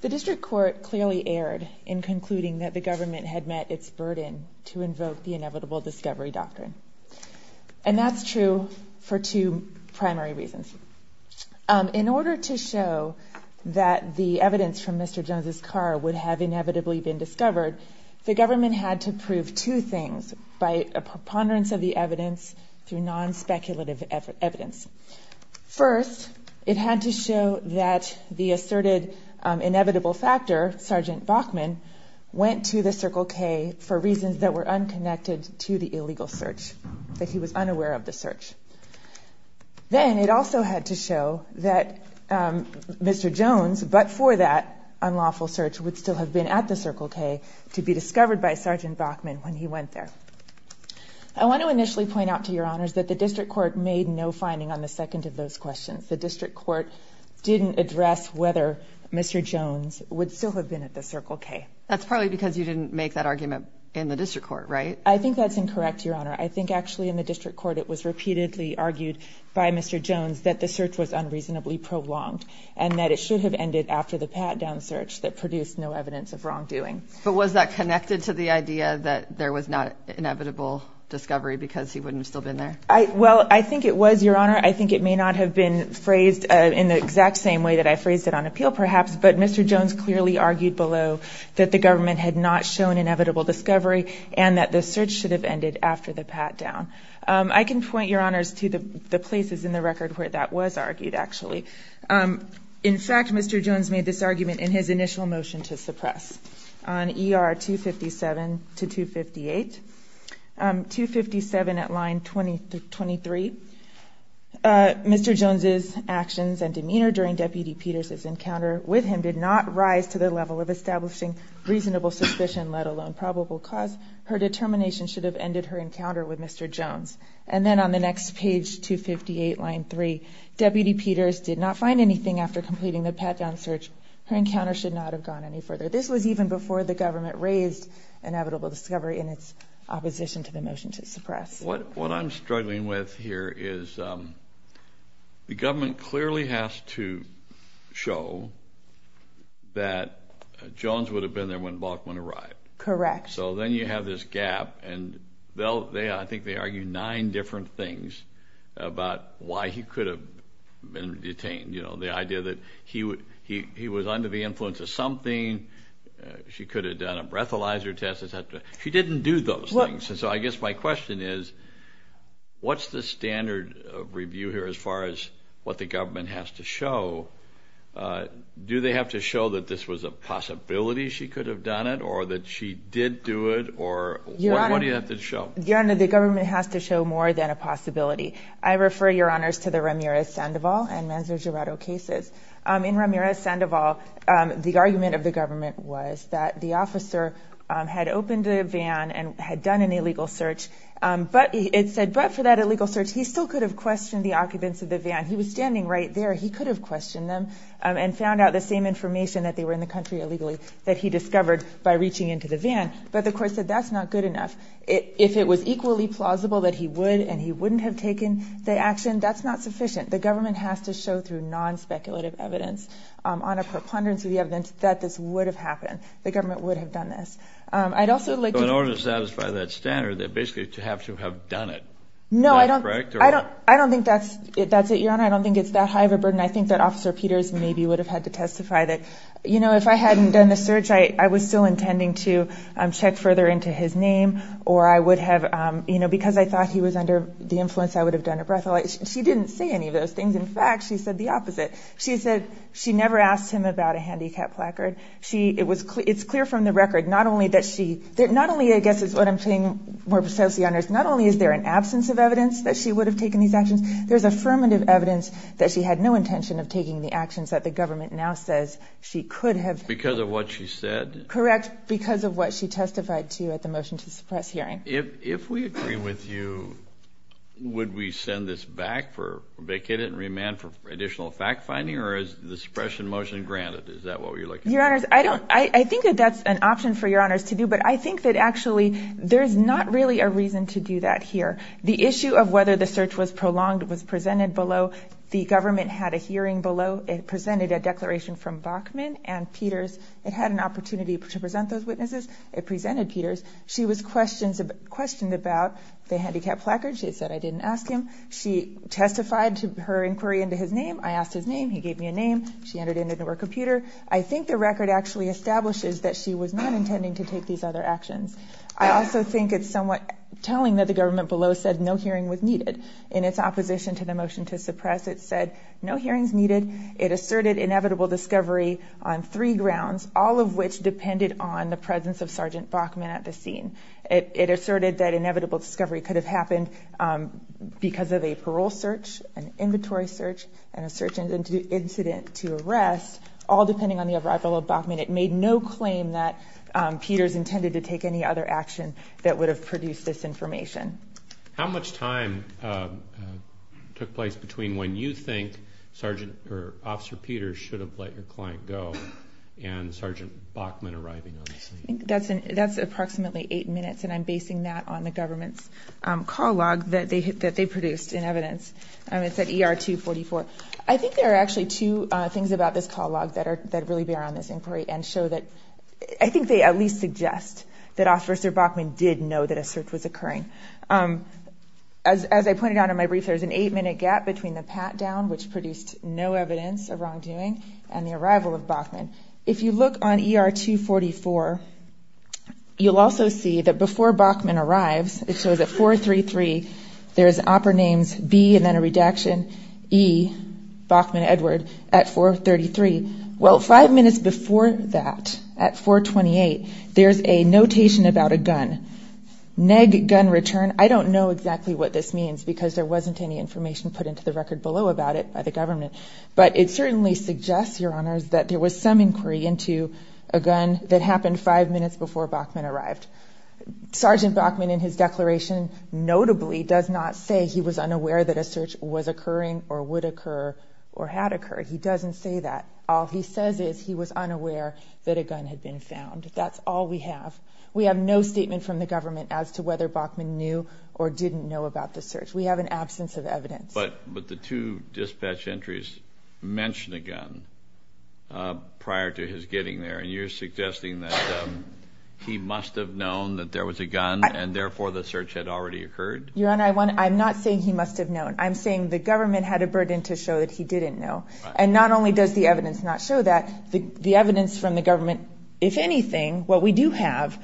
The District Court clearly erred in concluding that the government had met its burden to invoke the inevitable discovery doctrine, and that's true for two primary reasons. In order to show that the evidence from Mr. Jones's car would have inevitably been discovered, the government had to prove two things by a preponderance of the evidence through non-speculative evidence. First, it had to show that the asserted inevitable factor, Sergeant Bachman, went to the Circle K for reasons that were unconnected to the illegal search, that he was unaware of the search. Then, it also had to show that Mr. Jones, but for that unlawful search, would still have been at the Circle K to be discovered by Sergeant Bachman when he went there. I want to initially point out to Your Honors that the District Court made no finding on the second of those questions. The District Court didn't address whether Mr. Jones would still have been at the Circle K. That's probably because you didn't make that argument in the District Court, right? I think that's incorrect, Your Honor. I think, actually, in the District Court, it was repeatedly argued by Mr. Jones that the search was unreasonably prolonged and that it should have ended after the pat-down search that produced no evidence of wrongdoing. But was that connected to the idea that there was not inevitable discovery because he wouldn't have still been there? Well, I think it was, Your Honor. I think it may not have been phrased in the exact same way that I phrased it on appeal, perhaps, but Mr. Jones argued that the government had not shown inevitable discovery and that the search should have ended after the pat-down. I can point, Your Honors, to the places in the record where that was argued, actually. In fact, Mr. Jones made this argument in his initial motion to suppress on ER 257 to 258. 257 at line 23, Mr. Jones's actions and demeanor during Deputy Peters' encounter with him did not rise to the level of establishing reasonable suspicion, let alone probable cause. Her determination should have ended her encounter with Mr. Jones. And then on the next page, 258, line 3, Deputy Peters did not find anything after completing the pat-down search. Her encounter should not have gone any further. This was even before the government raised inevitable discovery in its opposition to the motion to suppress. What I'm struggling with here is the government clearly has to show that Jones would have been there when Bauchman arrived. Correct. So then you have this gap, and I think they argue nine different things about why he could have been detained. You know, the idea that he was under the influence of something, she could have done a breathalyzer test, etc. She didn't do those things. And so I guess my question is, what's the standard of review here as far as what the government has to show? Do they have to show that this was a possibility she could have done it, or that she did do it, or what do you have to show? Your Honor, the government has to show more than a possibility. I refer, Your Honors, to the Ramirez-Sandoval and Manzo-Girardo cases. In Ramirez-Sandoval, the argument of the government was that the officer had opened the van and had done an illegal search. But it said, but for that illegal search, he still could have questioned the occupants of the van. He was standing right there. He could have questioned them and found out the same information that they were in the country illegally that he discovered by reaching into the van. But the court said that's not good enough. If it was equally plausible that he would and he wouldn't have taken the action, that's not sufficient. The government has to show through nonspeculative evidence, on a preponderance of the evidence, that this would have happened. The government would have done this. I'd also like to- So in order to satisfy that standard, they're basically to have to have done it. No, I don't- Is that correct, or- I don't think that's it, Your Honor. I don't think it's that high of a burden. I think that Officer Peters maybe would have had to testify that, you know, if I hadn't done the search, I was still intending to check further into his name. Or I would have, you know, because I thought he was under the influence, I would have done a breathalyzer. She didn't say any of those things. In fact, she said the opposite. She said she never asked him about a handicapped placard. She, it's clear from the record, not only that she, not only, I guess, is what I'm saying more precisely, Your Honor, not only is there an absence of evidence that she would have taken these actions, there's affirmative evidence that she had no intention of taking the actions that the government now says she could have- Because of what she said? Correct. Because of what she testified to at the motion to suppress hearing. If we agree with you, would we send this back for, vacate it and remand for additional fact-finding, or is the suppression motion granted? Is that what you're looking for? Your Honors, I don't, I think that that's an option for Your Honors to do, but I think that actually there's not really a reason to do that here. The issue of whether the search was prolonged was presented below. The government had a hearing below. It presented a declaration from Bachman and Peters. It had an opportunity to present those witnesses. It presented Peters. She was questioned about the handicapped placard. She said, I didn't ask him. She testified her inquiry into his name. I asked his name. He gave me a name. She entered it into her computer. I think the record actually establishes that she was not intending to take these other actions. I also think it's somewhat telling that the government below said no hearing was needed. In its opposition to the motion to suppress, it said no hearings needed. It asserted inevitable discovery on three grounds, all of which depended on the presence of Sergeant Bachman at the scene. It asserted that inevitable discovery could have happened because of a parole search, an inventory search, and a search incident to arrest, all depending on the arrival of Bachman. It made no claim that Peters intended to take any other action that would have produced this information. How much time took place between when you think Sergeant or Officer Peters should have let your client go and Sergeant Bachman arriving on the scene? That's approximately eight minutes, and I'm basing that on the government's call log that they produced in evidence. It's at ER 244. I think there are actually two things about this call log that really bear on this inquiry and show that, I think they at least suggest that Officer Bachman did know that a search was occurring. As I pointed out in my brief, there's an eight minute gap between the pat down, which produced no evidence of wrongdoing, and the arrival of Bachman. If you look on ER 244, you'll also see that before Bachman arrives, it shows at 433, there's opera names B and then a redaction, E, Bachman, Edward, at 433. Well, five minutes before that, at 428, there's a notation about a gun. Neg gun return, I don't know exactly what this means because there wasn't any information put into the record below about it by the government. But it certainly suggests, Your Honors, that there was some inquiry into a gun that happened five minutes before Bachman arrived. Sergeant Bachman, in his declaration, notably does not say he was unaware that a search was occurring or would occur or had occurred. He doesn't say that. All he says is he was unaware that a gun had been found. That's all we have. We have no statement from the government as to whether Bachman knew or didn't know about the search. We have an absence of evidence. But the two dispatch entries mention a gun prior to his getting there. And you're suggesting that he must have known that there was a gun and therefore the search had already occurred? Your Honor, I'm not saying he must have known. I'm saying the government had a burden to show that he didn't know. And not only does the evidence not show that, the evidence from the government, if anything, what we do have,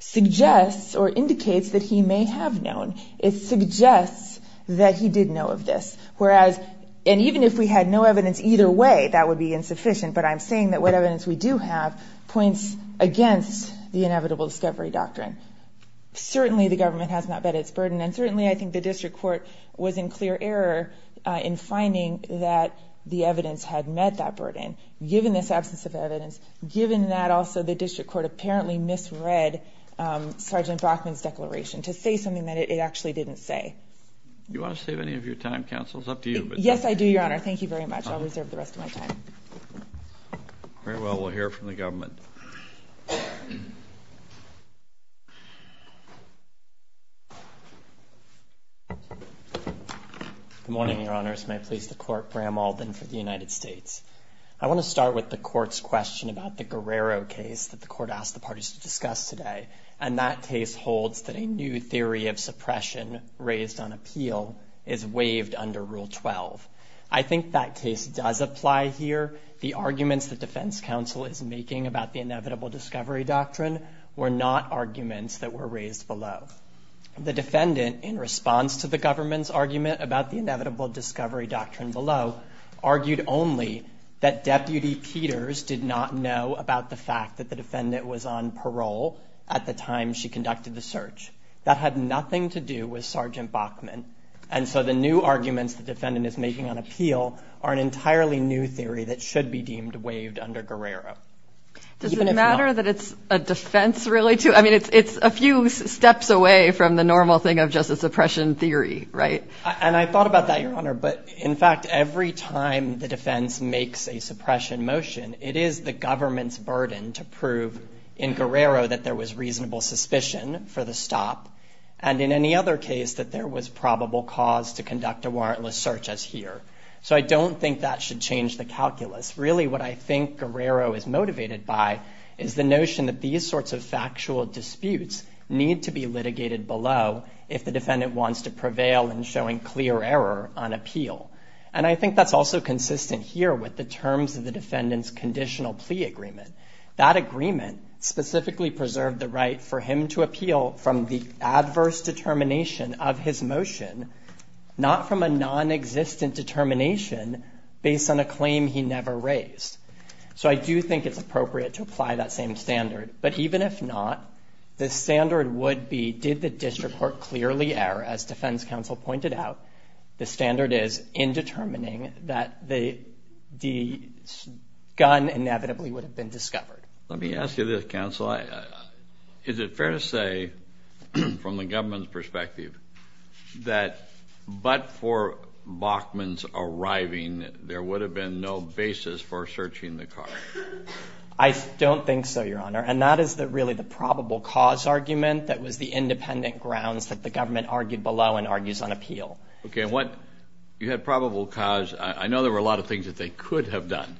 suggests or indicates that he may have known. It suggests that he did know of this. Whereas, and even if we had no evidence either way, that would be insufficient. But I'm saying that what evidence we do have points against the inevitable discovery doctrine. Certainly, the government has not met its burden. And certainly, I think the district court was in clear error in finding that the evidence had met that burden. Given this absence of evidence, given that also the district court apparently misread Sergeant Bachman's declaration to say something that it actually didn't say. Do you want to save any of your time, counsel? It's up to you. Yes, I do, Your Honor. Thank you very much. I'll reserve the rest of my time. Very well. We'll hear from the government. Good morning, Your Honors. May it please the court, Bram Alden for the United States. I want to start with the court's question about the Guerrero case that the court asked the parties to discuss today. And that case holds that a new theory of suppression raised on appeal is waived under Rule 12. I think that case does apply here. The arguments that defense counsel is making about the inevitable discovery doctrine were not arguments that were raised below. The defendant, in response to the government's argument about the inevitable discovery doctrine below, argued only that Deputy Peters did not know about the fact that the defendant was on parole at the time she conducted the search. That had nothing to do with Sergeant Bachman. And so the new arguments the defendant is making on appeal are an entirely new theory that should be deemed waived under Guerrero. Does it matter that it's a defense, really, too? I mean, it's a few steps away from the normal thing of justice suppression theory, right? And I thought about that, Your Honor. But in fact, every time the defense makes a suppression motion, it is the government's burden to prove in Guerrero that there was reasonable suspicion for the stop. And in any other case, that there was probable cause to conduct a warrantless search as here. So I don't think that should change the calculus. Really, what I think Guerrero is motivated by is the notion that these sorts of factual disputes need to be litigated below if the defendant wants to prevail in showing clear error on appeal. And I think that's also consistent here with the terms of the defendant's conditional plea agreement. That agreement specifically preserved the right for him to appeal from the adverse determination of his motion, not from a non-existent determination based on a claim he never raised. So I do think it's appropriate to apply that same standard. But even if not, the standard would be, did the district court clearly err? As defense counsel pointed out, the standard is in determining that the gun inevitably would have been discovered. Let me ask you this, counsel. Is it fair to say, from the government's perspective, that but for Bachman's arriving, there would have been no basis for searching the car? I don't think so, Your Honor. And that is really the probable cause argument that was the independent grounds that the government argued below and argues on appeal. Okay, and what you had probable cause, I know there were a lot of things that they could have done,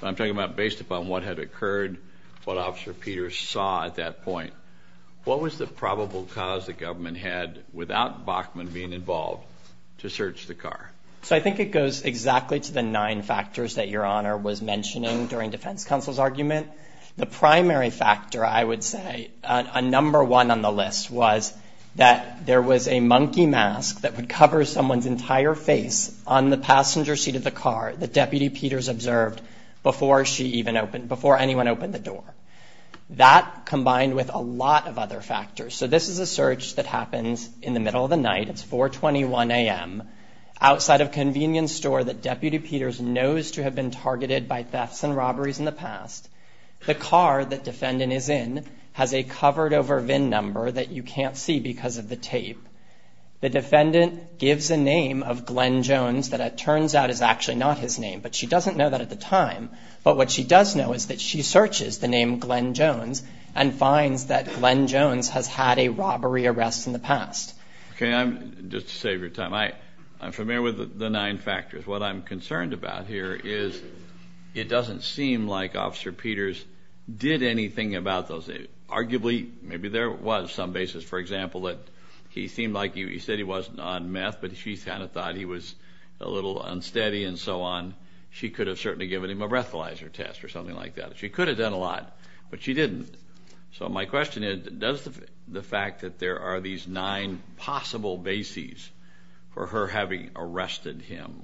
but I'm talking about based upon what had occurred, what Officer Peters saw at that point. What was the probable cause the government had, without Bachman being involved, to search the car? So I think it goes exactly to the nine factors that Your Honor was mentioning during defense counsel's argument. The primary factor, I would say, a number one on the list, was that there was a monkey mask that would cover someone's entire face on the passenger seat of the car that Deputy Peters observed before she even opened, before anyone opened the door. That combined with a lot of other factors. So this is a search that happens in the middle of the night, it's 421 AM, outside of a convenience store that Deputy Peters knows to have been targeted by thefts and robberies in the past. The car that defendant is in has a covered over VIN number that you can't see because of the tape. The defendant gives a name of Glenn Jones that it turns out is actually not his name, but she doesn't know that at the time. But what she does know is that she searches the name Glenn Jones and finds that Glenn Jones has had a robbery arrest in the past. Okay, just to save your time, I'm familiar with the nine factors. What I'm concerned about here is it doesn't seem like Officer Peters did anything about those. Arguably, maybe there was some basis, for example, that he seemed like he said he wasn't on meth, but she kind of thought he was a little unsteady and so on. She could have certainly given him a breathalyzer test or something like that. She could have done a lot, but she didn't. So my question is, does the fact that there are these nine possible bases for her having arrested him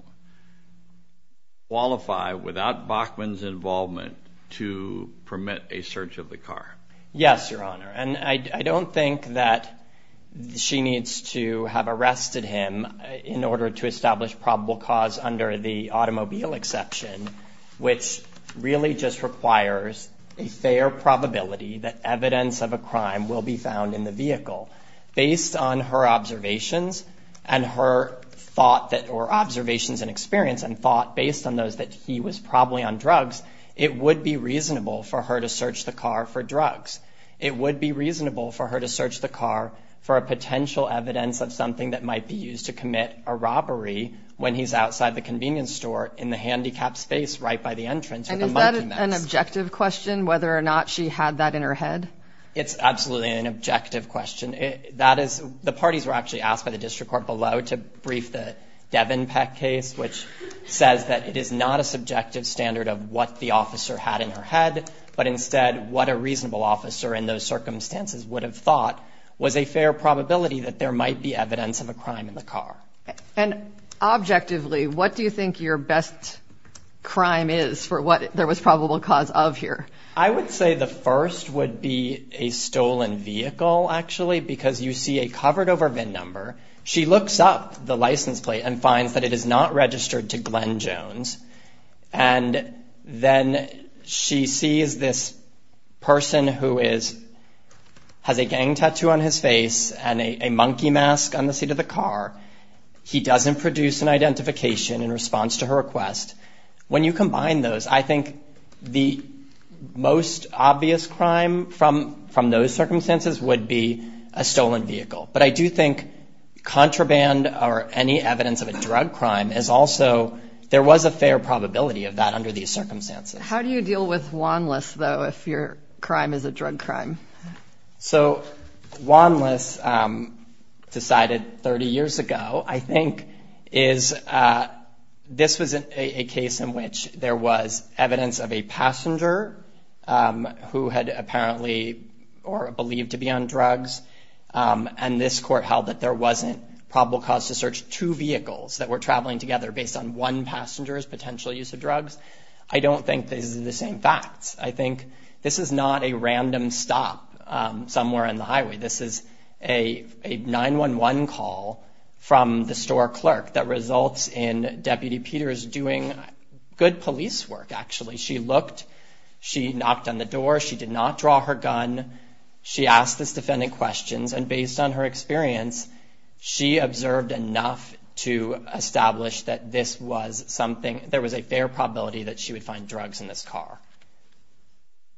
qualify without Bachman's involvement to permit a search of the car? Yes, Your Honor, and I don't think that she needs to have arrested him in order to establish probable cause under the automobile exception, which really just requires a fair probability that evidence of a crime will be found in the vehicle. Based on her observations and her thought that, or observations and experience and thought based on those that he was probably on drugs, it would be reasonable for her to search the car for drugs. It would be reasonable for her to search the car for a potential evidence of something that might be used to commit a robbery when he's outside the convenience store in the handicapped space right by the entrance. And is that an objective question, whether or not she had that in her head? It's absolutely an objective question. The parties were actually asked by the district court below to brief the Devin Peck case, which says that it is not a subjective standard of what the officer had in her head, but instead what a reasonable officer in those circumstances would have thought was a fair probability that there might be evidence of a crime in the car. And objectively, what do you think your best crime is for what there was probable cause of here? I would say the first would be a stolen vehicle, actually, because you see a covered over VIN number. She looks up the license plate and finds that it is not registered to Glenn Jones. And then she sees this person who is, has a gang tattoo on his face and a monkey mask on the seat of the car. He doesn't produce an identification in response to her request. When you combine those, I think the most obvious crime from those circumstances would be a stolen vehicle. But I do think contraband or any evidence of a drug crime is also, there was a fair probability of that under these circumstances. How do you deal with wan-less, though, if your crime is a drug crime? So wan-less, decided 30 years ago, I think is, this was a case in which there was evidence of a passenger who had apparently or believed to be on drugs. And this court held that there wasn't probable cause to search two vehicles that were traveling together based on one passenger's potential use of drugs. I don't think these are the same facts. I think this is not a random stop somewhere on the highway. This is a 911 call from the store clerk that results in Deputy Peters doing good police work, actually. She looked. She knocked on the door. She did not draw her gun. She asked this defendant questions, and based on her experience, she observed enough to establish that this was something, there was a fair probability that she would find drugs in this car.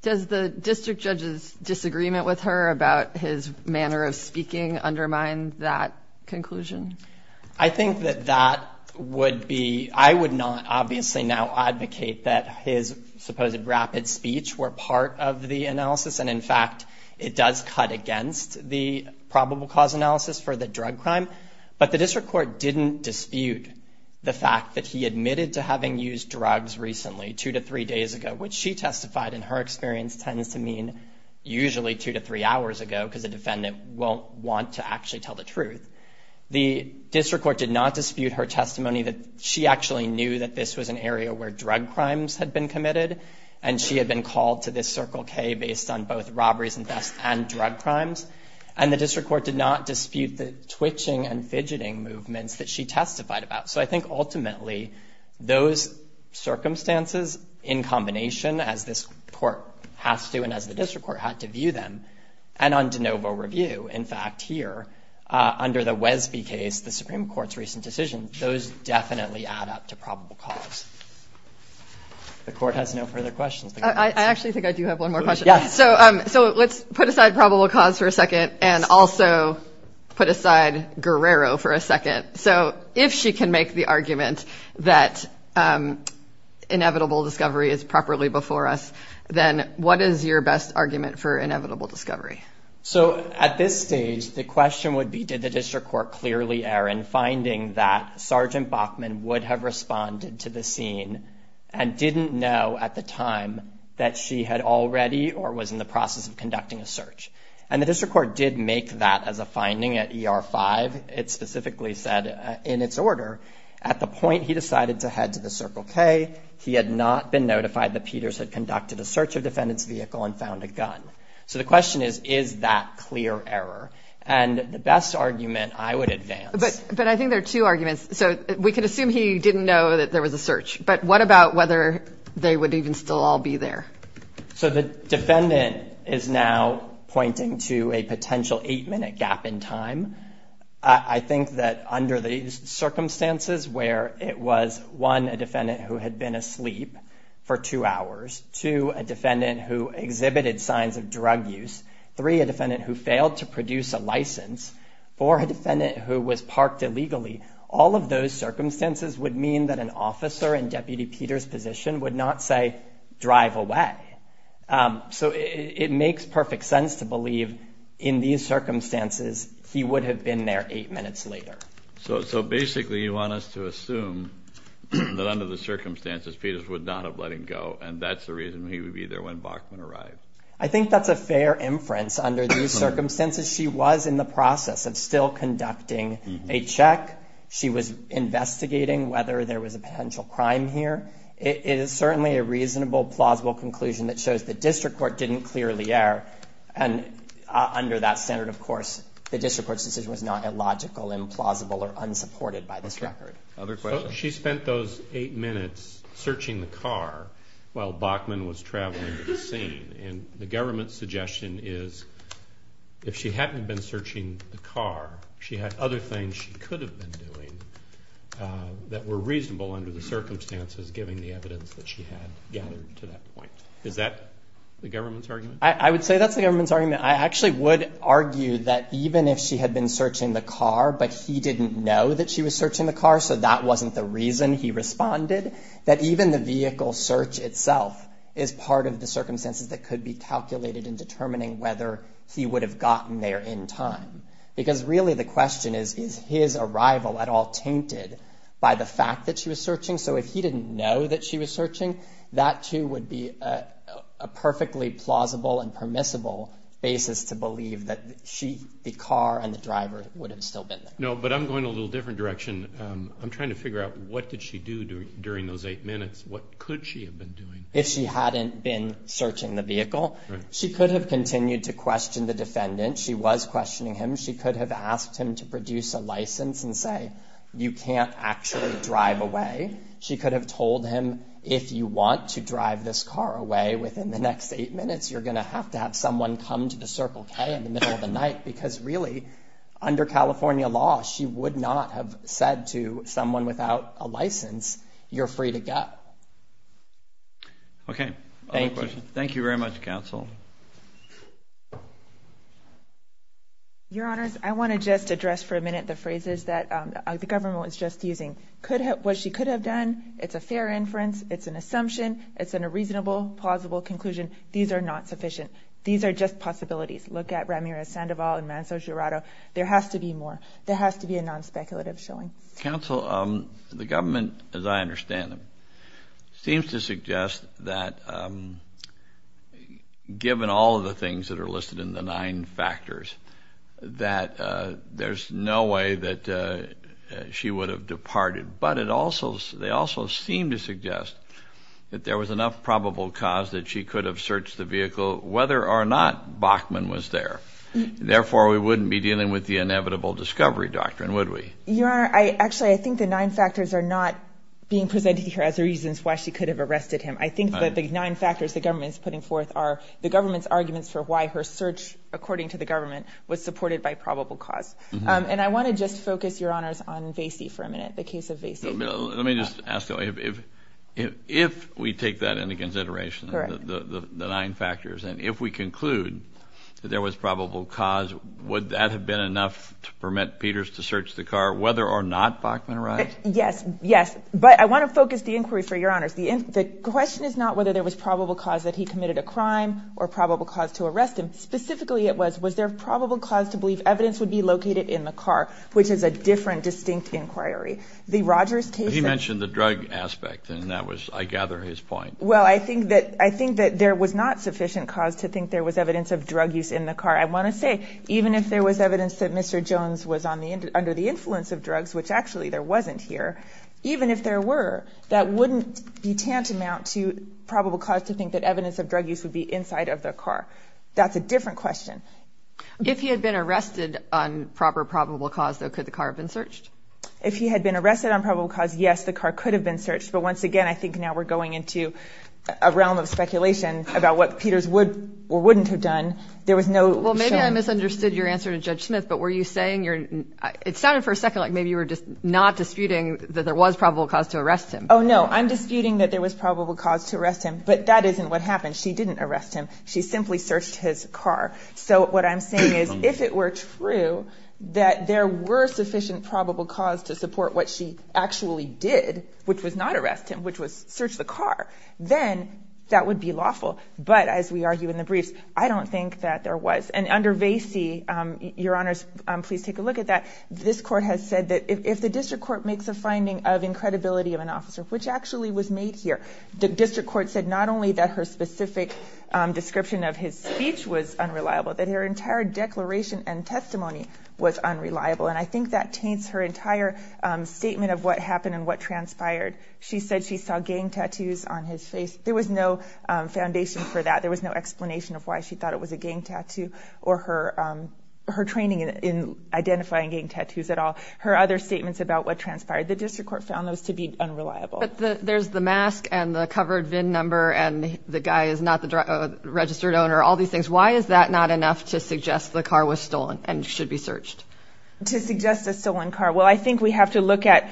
Does the district judge's disagreement with her about his manner of speaking undermine that conclusion? I think that that would be, I would not, obviously, now advocate that his supposed rapid speech were part of the analysis. And in fact, it does cut against the probable cause analysis for the drug crime. But the district court didn't dispute the fact that he admitted to having used drugs recently, two to three days ago, which she testified in her experience tends to mean usually two to three hours ago because the defendant won't want to actually tell the truth. The district court did not dispute her testimony that she actually knew that this was an area where drug crimes had been committed. And she had been called to this Circle K based on both robberies and thefts and drug crimes. And the district court did not dispute the twitching and fidgeting movements that she testified about. So I think ultimately, those circumstances in combination as this court has to and as the district court had to view them, and on de novo review. In fact, here, under the Wesby case, the Supreme Court's recent decision, those definitely add up to probable cause. The court has no further questions. I actually think I do have one more question. So let's put aside probable cause for a second and also put aside Guerrero for a second. So if she can make the argument that inevitable discovery is properly before us, then what is your best argument for inevitable discovery? So at this stage, the question would be, did the district court clearly err in finding that Sergeant Bachman would have responded to the scene and didn't know at the time that she had already or was in the process of conducting a search? And the district court did make that as a finding at ER 5. It specifically said in its order, at the point he decided to head to the Circle K, he had not been notified that Peters had conducted a search of defendant's vehicle and found a gun. So the question is, is that clear error? And the best argument I would advance. But I think there are two arguments. So we can assume he didn't know that there was a search. But what about whether they would even still all be there? So the defendant is now pointing to a potential eight minute gap in time. I think that under these circumstances where it was, one, a defendant who had been asleep for two hours, two, a defendant who exhibited signs of drug use, three, a defendant who failed to produce a license, four, a defendant who was parked illegally, all of those circumstances would mean that an officer in Deputy Peters' position would not say, drive away. So it makes perfect sense to believe in these circumstances he would have been there eight minutes later. So basically you want us to assume that under the circumstances, Peters would not have let him go. And that's the reason he would be there when Bachman arrived. I think that's a fair inference. Under these circumstances, she was in the process of still conducting a check. She was investigating whether there was a potential crime here. It is certainly a reasonable, plausible conclusion that shows the district court didn't clearly err. And under that standard, of course, the district court's decision was not illogical, implausible, or unsupported by this record. Other questions? So she spent those eight minutes searching the car while Bachman was traveling to the scene. And the government's suggestion is, if she hadn't been searching the car, she had other things she could have been doing that were reasonable under the circumstances, given the evidence that she had gathered to that point. Is that the government's argument? I would say that's the government's argument. I actually would argue that even if she had been searching the car, but he didn't know that she was searching the car, so that wasn't the reason he responded, that even the vehicle search itself is part of the circumstances that could be calculated in determining whether he would have gotten there in time. Because really the question is, is his arrival at all tainted by the fact that she was searching? So if he didn't know that she was searching, that too would be a perfectly plausible and permissible basis to believe that the car and the driver would have still been there. No, but I'm going a little different direction. I'm trying to figure out, what did she do during those eight minutes? What could she have been doing? If she hadn't been searching the vehicle, she could have continued to question the defendant. She was questioning him. She could have asked him to produce a license and say, you can't actually drive away. She could have told him, if you want to drive this car away within the next eight minutes, you're going to have to have someone come to the Circle K in the middle of the night. Because really, under California law, she would not have said to someone without a license, you're free to go. OK, other questions? Thank you very much, counsel. Your Honors, I want to just address for a minute the phrases that the government was just using. What she could have done, it's a fair inference. It's an assumption. It's a reasonable, plausible conclusion. These are not sufficient. These are just possibilities. Look at Ramirez-Sandoval and Manso-Girado. There has to be more. There has to be a non-speculative showing. Counsel, the government, as I understand it, seems to suggest that given all of the things that are listed in the nine factors, that there's no way that she would have departed. But they also seem to suggest that there was enough probable cause that she could have searched the vehicle, whether or not Bachman was there. Therefore, we wouldn't be dealing with the inevitable discovery doctrine, would we? Your Honor, actually, I think the nine factors are not being presented here as reasons why she could have arrested him. I think that the nine factors the government is putting forth are the government's arguments for why her search, according to the government, was supported by probable cause. And I want to just focus, Your Honors, on Vasey for a minute, the case of Vasey. Let me just ask, if we take that into consideration, the nine factors, and if we conclude that there was probable cause, would that have been enough to permit Peters to search the car, whether or not Bachman arrived? Yes, yes. But I want to focus the inquiry, for Your Honors. The question is not whether there was probable cause that he committed a crime or probable cause to arrest him. Specifically, it was, was there probable cause to believe evidence would be located in the car, which is a different, distinct inquiry. The Rogers case- He mentioned the drug aspect, and that was, I gather, his point. Well, I think that, I think that there was not sufficient cause to think there was evidence of drug use in the car. I want to say, even if there was evidence that Mr. Jones was on the, under the influence of drugs, which actually there wasn't here, even if there were, that wouldn't be tantamount to probable cause to think that evidence of drug use would be inside of the car. That's a different question. If he had been arrested on proper probable cause, though, could the car have been searched? If he had been arrested on probable cause, yes, the car could have been searched. But once again, I think now we're going into a realm of speculation about what Peters would or wouldn't have done. There was no- Well, maybe I misunderstood your answer to Judge Smith, but were you saying you're, it sounded for a second like maybe you were just not disputing that there was probable cause to arrest him. Oh, no. I'm disputing that there was probable cause to arrest him. But that isn't what happened. She didn't arrest him. She simply searched his car. So what I'm saying is if it were true that there were sufficient probable cause to support what she actually did, which was not arrest him, which was search the car, then that would be lawful. But as we argue in the briefs, I don't think that there was. And under Vasey, Your Honors, please take a look at that. This court has said that if the district court makes a finding of incredibility of an officer, which actually was made here, the district court said not only that her specific description of his speech was unreliable, that her entire declaration and testimony was unreliable. And I think that taints her entire statement of what happened and what transpired. She said she saw gang tattoos on his face. There was no foundation for that. There was no explanation of why she thought it was a gang tattoo or her training in identifying gang tattoos at all. Her other statements about what transpired, the district court found those to be unreliable. There's the mask and the covered VIN number and the guy is not the registered owner, all these things. Why is that not enough to suggest the car was stolen and should be searched? To suggest a stolen car? Well, I think we have to look at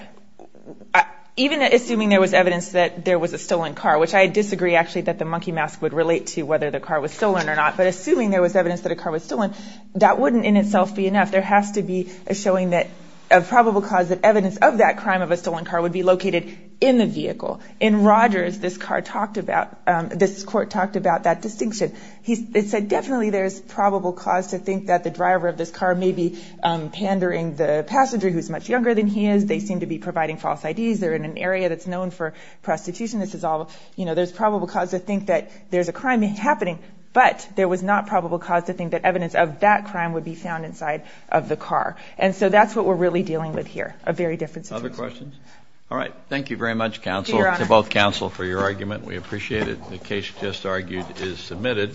even assuming there was evidence that there was a stolen car, which I disagree, actually, that the monkey mask would relate to whether the car was stolen or not. But assuming there was evidence that a car was stolen, that wouldn't in itself be enough. There has to be a showing that a probable cause of evidence of that crime of a stolen car would be located in the vehicle. In Rogers, this court talked about that distinction. It said definitely there's probable cause to think that the driver of this car may be pandering the passenger who's much younger than he is. They seem to be providing false IDs. They're in an area that's known for prostitution. This is all, you know, there's probable cause to think that there's a crime happening. But there was not probable cause to think that evidence of that crime would be found inside of the car. And so that's what we're really dealing with here, a very different situation. Other questions? All right. Thank you very much, counsel, to both counsel for your argument. We appreciate it. The case just argued is submitted.